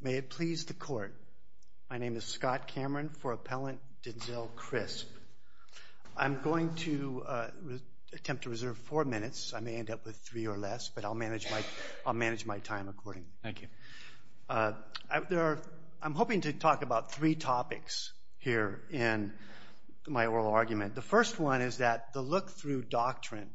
May it please the Court. My name is Scott Cameron for Appellant Denzel Crisp. I'm going to attempt to reserve four minutes. I may end up with three or less, but I'll manage my time accordingly. Thank you. I'm hoping to talk about three topics here in my oral argument. The first one is that the look-through doctrine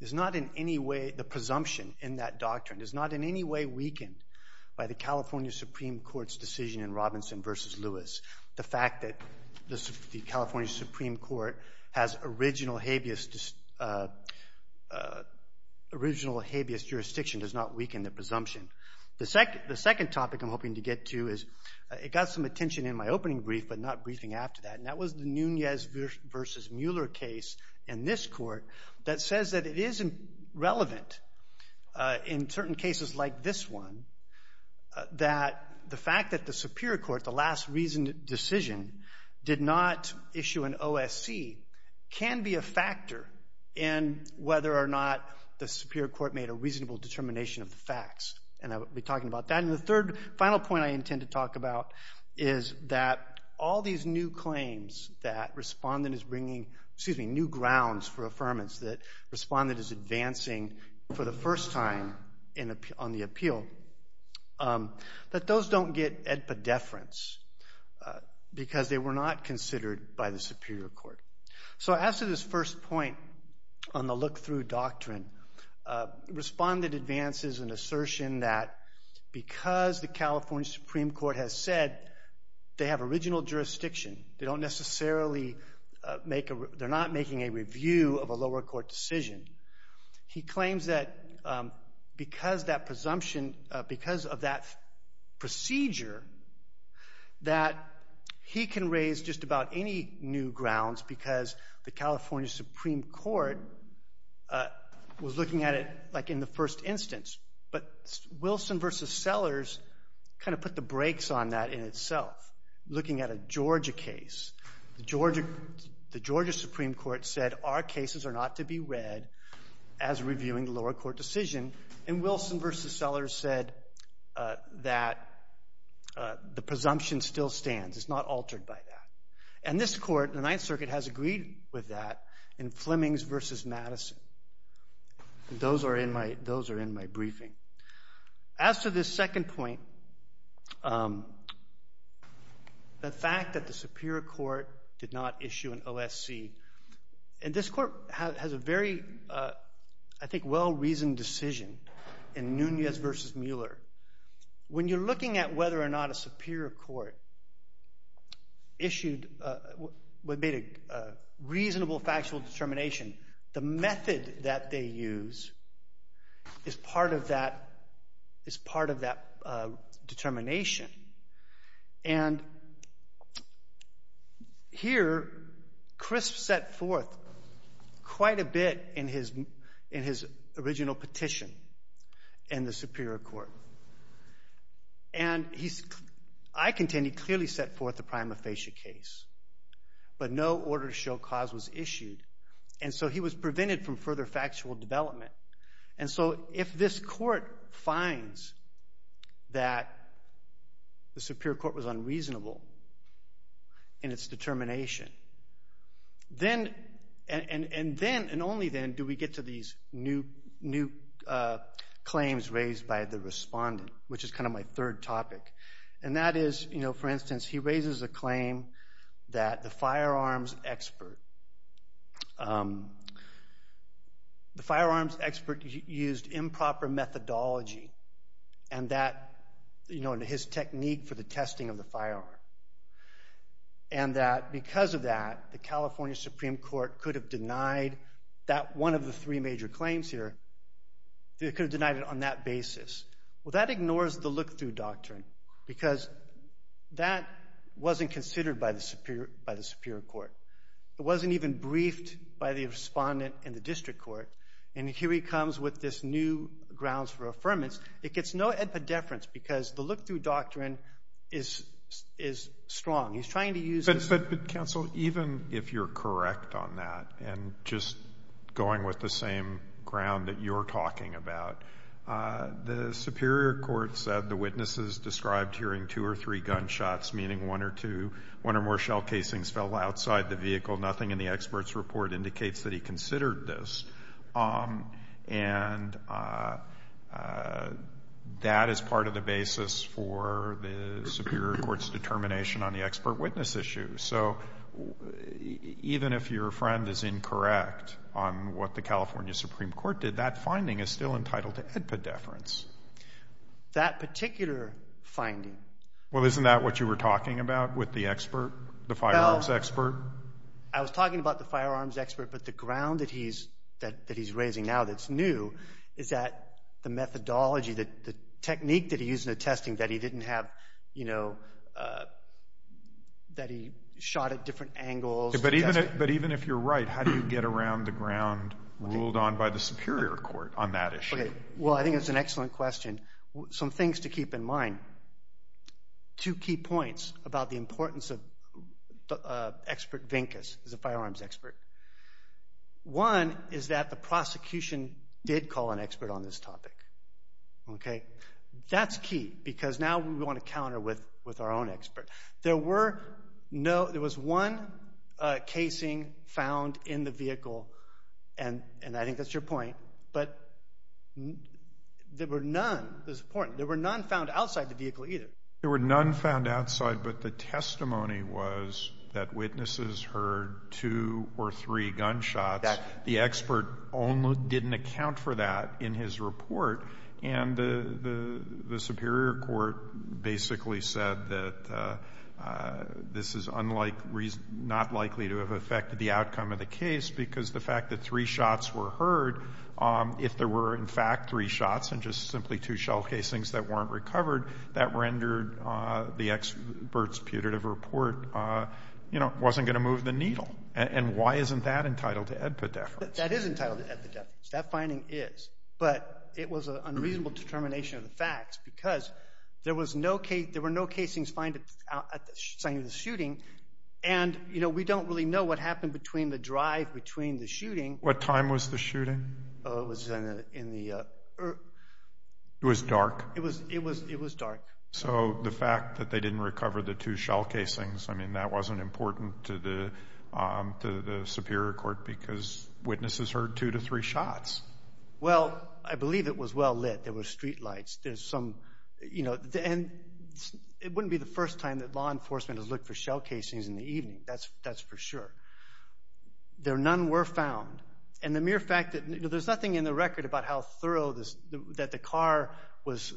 is not in any way, the presumption in that doctrine, is not in any way weakened by the California Supreme Court's decision in Robinson v. Lewis. The fact that the California Supreme Court has original habeas jurisdiction does not weaken the presumption. The second topic I'm hoping to get to is, it got some Mueller case in this court that says that it is relevant in certain cases like this one that the fact that the Superior Court, the last reasoned decision, did not issue an OSC can be a factor in whether or not the Superior Court made a reasonable determination of the facts. And I will be talking about that. And the third, final point I intend to talk about is that all these new claims that Respondent is bringing, excuse me, new grounds for affirmance that Respondent is advancing for the first time on the appeal, that those don't get epidefference because they were not considered by the Superior Court. So as to this first point on the look-through doctrine, Respondent advances an assertion that because the California Supreme Court has said they have original jurisdiction, they don't necessarily make a, they're not making a review of a lower court decision. He claims that because that presumption, because of that procedure, that he can raise just about any new grounds because the California Supreme Court was looking at it like in the first instance. But Wilson v. Sellers kind of put the brakes on that in itself. Looking at a Georgia case, the Georgia Supreme Court said our cases are not to be read as reviewing the lower court decision. And Wilson v. Sellers said that the presumption still stands. It's not altered by that. And this court, the Ninth Circuit, has agreed with that in Flemings v. Madison. Those are in my briefing. As to this second point, the fact that the Superior Court did not issue an OSC, and this court has a very, I think, well-reasoned decision in Nunez v. Mueller. When you're looking at whether or not a Superior Court issued, made a reasonable factual determination, the method that they use is part of that determination. And here, Crisp set forth quite a bit in his original petition in the Superior Court. And I contend he clearly set forth the prima facie case. But no order to show cause was issued. And so he was prevented from further factual development. And so if this court finds that the Superior Court was unreasonable in its determination, and only then do we get to these new claims raised by the respondent, which is kind of my third topic. And that is, for instance, he raises a claim that the firearms expert used improper methodology and his technique for the testing of the firearm. And that because of that, the California Supreme Court could have denied that one of the three major claims here. They could have denied it on that basis. Well, that ignores the look-through doctrine, because that wasn't considered by the Superior Court. It wasn't even briefed by the respondent in the District Court. And here he comes with this new grounds for affirmance. It gets no epidefference, because the look-through doctrine is strong. He's trying to use the... But, counsel, even if you're correct on that, and just going with the same ground that you're talking about, the Superior Court said the witnesses described hearing two or three gunshots, meaning one or two, one or more shell casings fell outside the vehicle. Nothing in the expert's report indicates that he considered this. And that is part of the basis for the Superior Court's determination on the expert witness issue. So even if your friend is incorrect on what the California Supreme Court did, that finding is still entitled to epidefference. That particular finding... Well, isn't that what you were talking about with the expert, the firearms expert? I was talking about the firearms expert, but the ground that he's raising now that's new is that the methodology, the technique that he used in the testing that he didn't have, you know, that he shot at different angles. But even if you're right, how do you get around the ground ruled on by the Superior Court on that issue? Well, I think that's an excellent question. Some things to keep in mind. Two key points about the importance of expert Vincus as a firearms expert. One is that the prosecution did call an expert on this topic. Okay? That's key because now we want to counter with our own expert. There was one casing found in the vehicle, and I think that's your point, but there were none, this is important, there were none found outside the vehicle either. There were none found outside, but the testimony was that witnesses heard two or three gunshots. The expert only didn't account for that in his report, and the Superior Court basically said that this is not likely to have affected the outcome of the case because the fact that three shots were heard, if there were in fact three shots and just simply two shell casings that weren't recovered, that rendered the expert's putative report, you know, wasn't going to move the needle. And why isn't that entitled to epidephrase? That is entitled to epidephrase. That finding is. But it was an unreasonable determination of the facts because there were no casings found at the time of the shooting, and, you know, we don't really know what happened between the drive, between the shooting. What time was the shooting? It was in the... It was dark? It was dark. So the fact that they didn't recover the two shell casings, I mean, that wasn't important to the Superior Court because witnesses heard two to three shots. Well, I believe it was well lit. There were streetlights. There's some, you know, and it wouldn't be the first time that law enforcement has looked for shell casings in the evening, that's for sure. There none were found. And the mere fact that, you know, there's nothing in the record about how thorough this, that the car was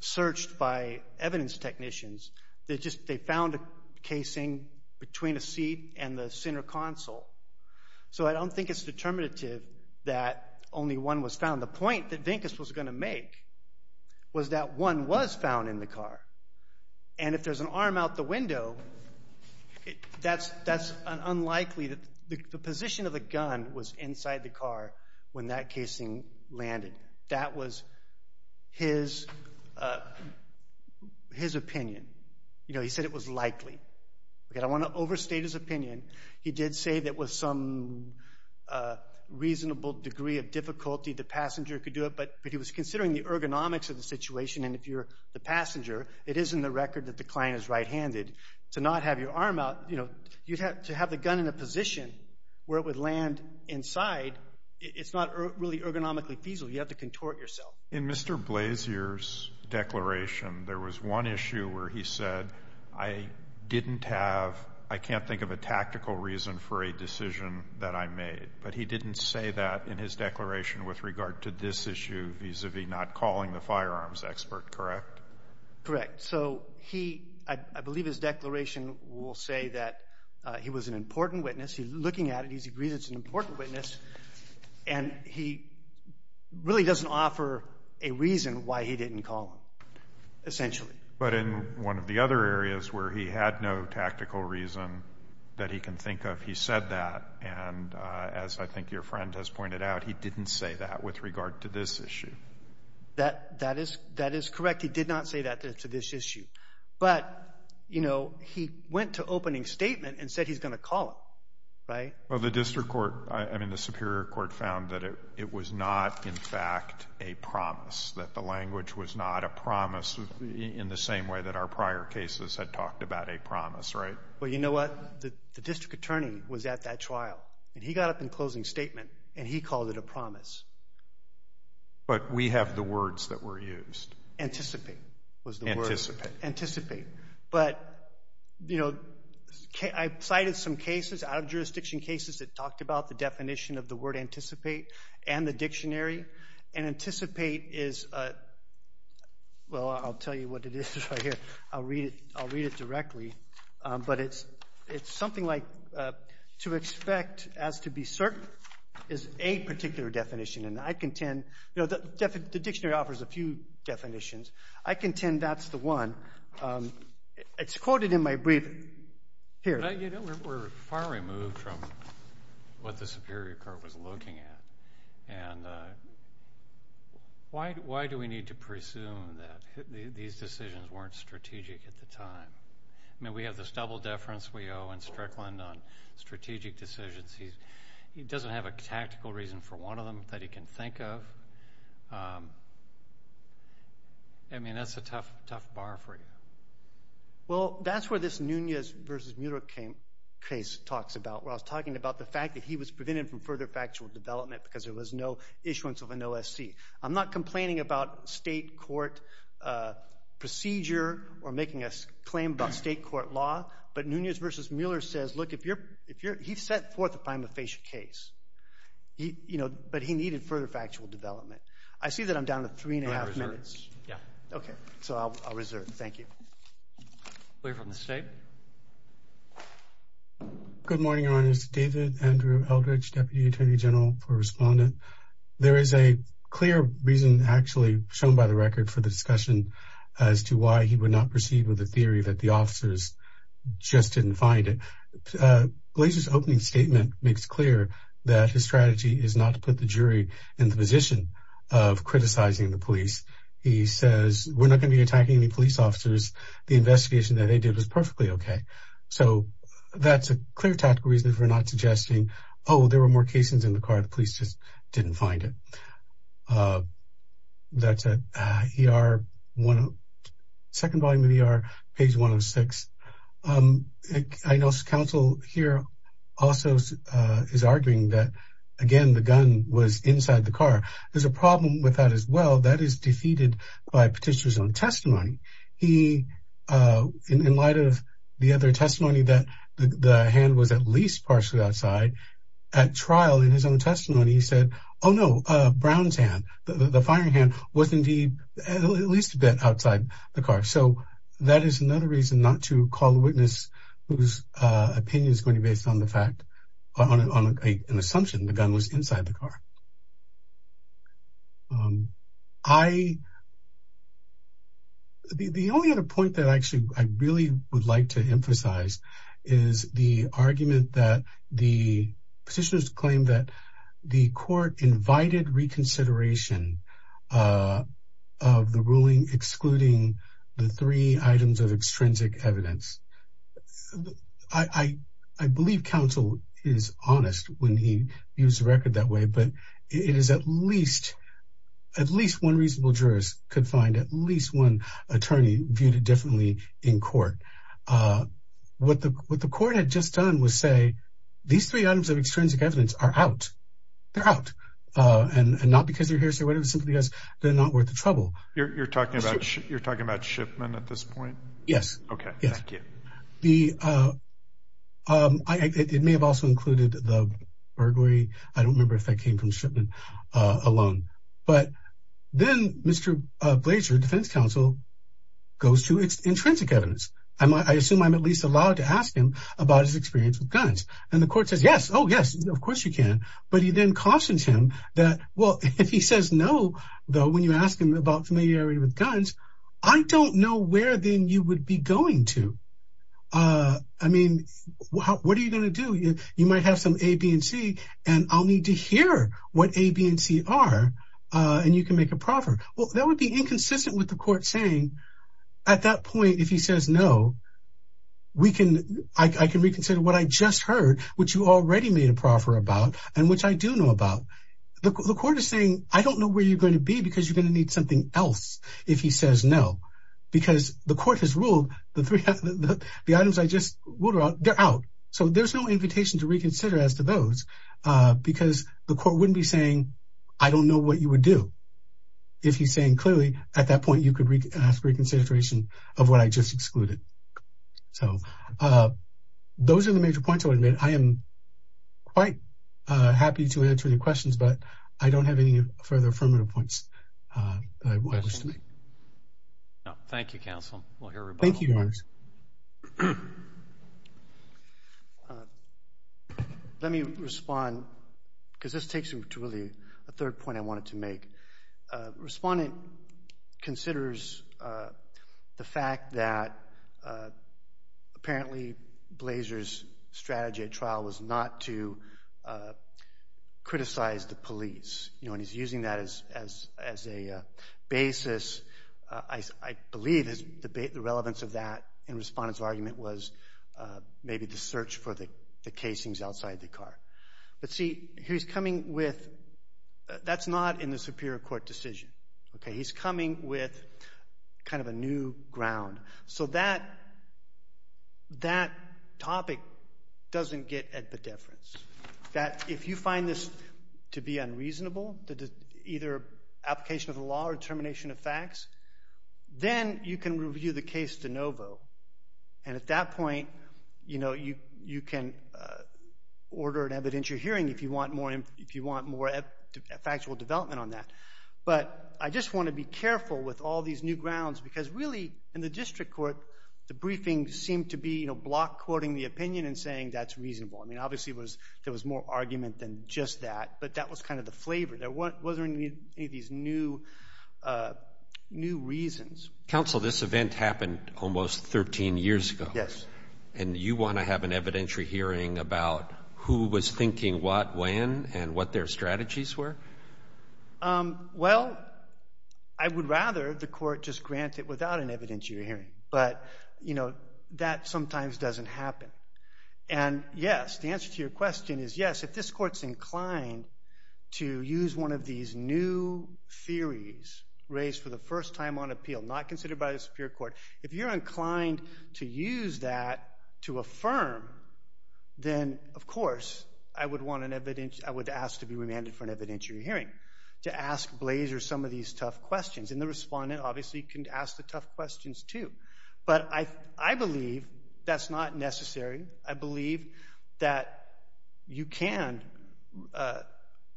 searched by evidence technicians, they just, they found a casing between a seat and the center console. So I don't think it's determinative that only one was found. The point that Vincus was going to make was that one was found in the car. And if there's an arm out the window, that's unlikely, the position of the gun was inside the car when that casing landed. That was his opinion. You know, he said it was likely. Okay, I want to overstate his opinion. He did say that with some reasonable degree of difficulty, the passenger could do it, but he was considering the ergonomics of the situation. And if you're the passenger, it is in the record that the client is right-handed. To not have your arm out, you know, you'd have to have the gun in a position where it would land inside. It's not really ergonomically feasible. You have to contort yourself. In Mr. Blasier's declaration, there was one issue where he said, I didn't have, I can't think of a tactical reason for a decision that I made. But he didn't say that in his declaration with regard to this issue vis-a-vis not calling the firearms expert, correct? Correct. So he, I believe his declaration will say that he was an important witness. He's looking at it. He agrees it's an important witness. And he really doesn't offer a reason why he didn't call him, essentially. But in one of the other areas where he had no tactical reason that he can think of, he said that. And as I think your friend has pointed out, he didn't say that with regard to this issue. That is correct. He did not say that to this issue. But, you know, he went to opening statement and said he's going to call him, right? Well, the district court, I mean, the Superior Court found that it was not, in fact, a promise. That the language was not a promise in the same way that our prior cases had talked about a promise, right? Well, you know what? The district attorney was at that trial. And he got up in closing statement and he called it a promise. But we have the words that were used. Anticipate was the word. Anticipate. But, you know, I cited some cases, out-of-jurisdiction cases that talked about the definition of the word anticipate and the dictionary. And anticipate is, well, I'll tell you what it is right here. I'll read it directly. But it's something like, to expect as to be certain is a particular definition. And I contend, you know, the dictionary offers a few definitions. I contend that's the one. It's quoted in my brief here. But, you know, we're far removed from what the Superior Court was looking at. And why do we need to presume that these decisions weren't strategic at the time? I mean, we have this double deference we owe in Strickland on strategic decisions. He doesn't have a tactical reason for one of them that he can think of. I mean, that's a tough bar for you. Well, that's where this Nunez v. Mueller case talks about. Where I was talking about the fact that he was prevented from further factual development because there was no issuance of an OSC. I'm not complaining about state court procedure or making a claim about state court law. But Nunez v. Mueller says, look, he's set forth a prima facie case. You know, but he needed further factual development. I see that I'm down to three and a half minutes. Yeah. Okay. So I'll reserve. Thank you. We have a mistake. Good morning, Your Honors. David Andrew Eldridge, Deputy Attorney General for Respondent. There is a clear reason actually shown by the record for the discussion as to why he would not proceed with the theory that the officers just didn't find it. Glaser's opening statement makes clear that his strategy is not to put the jury in the position of criticizing the police. He says, we're not going to be attacking any police officers. The investigation that they did was perfectly okay. So that's a clear tactical reason for not suggesting, oh, there were more cases in the car. The police just didn't find it. That's at ER, second volume of ER, page 106. I know counsel here also is arguing that, again, the gun was inside the car. There's a problem with that as well. That is defeated by Petitioner's own testimony. He, in light of the other testimony that the hand was at least partially outside, at trial in his own testimony, he said, oh, no, Brown's hand, the firing hand, was indeed at least a bit outside the car. So that is another reason not to call a witness whose opinion is going to be based on the fact, on an assumption the gun was inside the car. I, the only other point that actually I really would like to emphasize is the argument that the Petitioner's claim that the court invited reconsideration of the ruling excluding the three items of extrinsic evidence. I believe counsel is honest when he views the record that way, but it is at least, at least one reasonable jurist could find at least one attorney viewed it differently in court. What the court had just done was say, these three items of extrinsic evidence are out. They're out, and not because they're hearsay, but simply because they're not worth the trouble. You're talking about Shipman at this point? Yes. Okay, thank you. The, it may have also included the burglary, I don't remember if that came from Shipman alone. But then Mr. Blaser, defense counsel, goes to extrinsic evidence. I assume I'm at least allowed to ask him about his experience with guns. And the court says, yes, oh yes, of course you can. But he then cautions him that, well, if he says no, though, when you ask him about familiarity with guns, I don't know where then you would be going to. I mean, what are you going to do? You might have some A, B, and C, and I'll need to hear what A, B, and C are, and you can make a proffer. Well, that would be inconsistent with the court saying, at that point, if he says no, we can, I can reconsider what I just heard, which you already made a proffer about, and which I do know about. The court is saying, I don't know where you're going to be, because you're going to need something else if he says no. Because the court has ruled the items I just ruled out, they're out. So, there's no invitation to reconsider as to those, because the court wouldn't be saying, I don't know what you would do, if he's saying, clearly, at that point, you could ask reconsideration of what I just excluded. So, those are the major points I would make. I am quite happy to answer any questions, but I don't have any further affirmative points that I wish to make. No. Thank you, counsel. We'll hear everybody. Thank you, Your Honor. Let me respond, because this takes me to, really, a third point I wanted to make. Respondent considers the fact that, apparently, Blazer's strategy at trial was not to criticize the police. You know, and he's using that as a basis. I believe the relevance of that in Respondent's argument was, maybe, the search for the casings outside the car. But, see, he's coming with, that's not in the Superior Court decision. Okay? He's coming with, kind of, a new ground. So, that topic doesn't get at the difference. That, if you find this to be unreasonable, either application of the law or termination of facts, then you can review the case de novo, and at that point, you know, you can order an evidentiary hearing if you want more factual development on that. But, I just want to be careful with all these new grounds, because, really, in the District Court, the briefing seemed to be, you know, Block quoting the opinion and saying, that's reasonable. I mean, obviously, there was more argument than just that, but that was, kind of, the flavor. There wasn't any of these new reasons. Counsel, this event happened almost 13 years ago. Yes. And you want to have an evidentiary hearing about who was thinking what, when, and what their strategies were? Well, I would rather the court just grant it without an evidentiary hearing. But, you know, that sometimes doesn't happen. And, yes, the answer to your question is, yes, if this court's inclined to use one of these new theories raised for the first time on appeal, not considered by the Superior Court, if you're inclined to use that to affirm, then, of course, I would want an evidentiary, I would ask to be remanded for an evidentiary hearing, to ask Blazer some of these tough questions. And the respondent, obviously, can ask the tough questions, too. But I believe that's not necessary. I believe that you can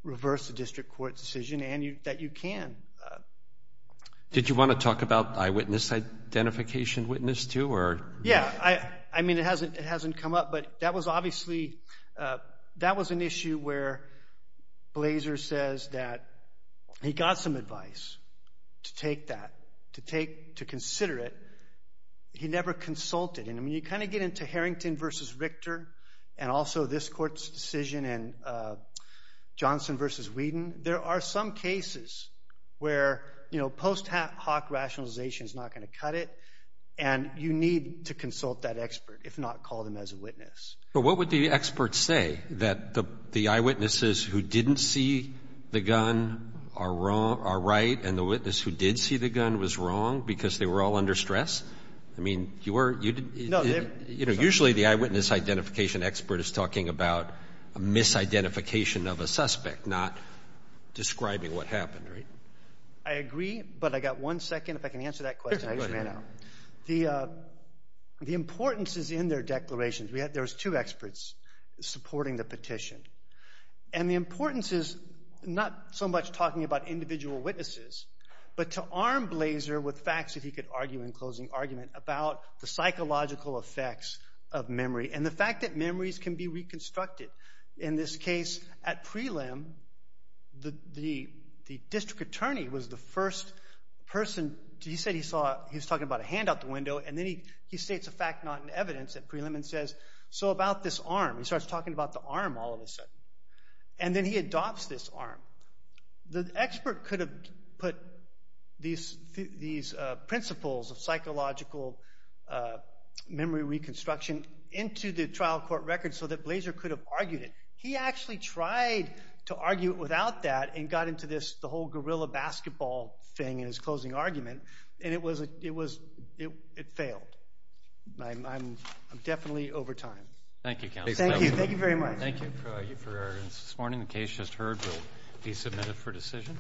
reverse a district court decision and that you can. Did you want to talk about eyewitness identification witness, too, or? Yes. I mean, it hasn't come up, but that was obviously, that was an issue where Blazer says that he got some advice to take that, to take, to consider it. He never consulted. And, I mean, you kind of get into Harrington versus Richter, and also this court's decision, and Johnson versus Whedon. There are some cases where, you know, post hoc rationalization is not going to cut it. And you need to consult that expert, if not call them as a witness. But what would the expert say? That the eyewitnesses who didn't see the gun are right, and the witness who did see the gun was wrong because they were all under stress? I mean, you were, you didn't, you know, usually the eyewitness identification expert is talking about a misidentification of a suspect, not describing what happened, right? I agree, but I got one second, if I can answer that question, I just ran out. The importance is in their declarations. There was two experts supporting the petition. And the importance is not so much talking about individual witnesses, but to arm Blaser with facts, if he could argue in closing argument, about the psychological effects of memory, and the fact that memories can be reconstructed. In this case, at prelim, the district attorney was the first person, he said he saw, he was talking about a hand out the window, and then he states a fact not in evidence at prelim, and says, so about this arm, he starts talking about the arm all of a sudden. And then he adopts this arm. The expert could have put these principles of psychological memory reconstruction into the trial court record so that Blaser could have argued it. He actually tried to argue it without that, and got into this, the whole guerrilla basketball thing in his closing argument, and it failed. I'm definitely over time. Thank you, counsel. Thank you, thank you very much. Thank you for your evidence this morning. The case just heard will be submitted for decision.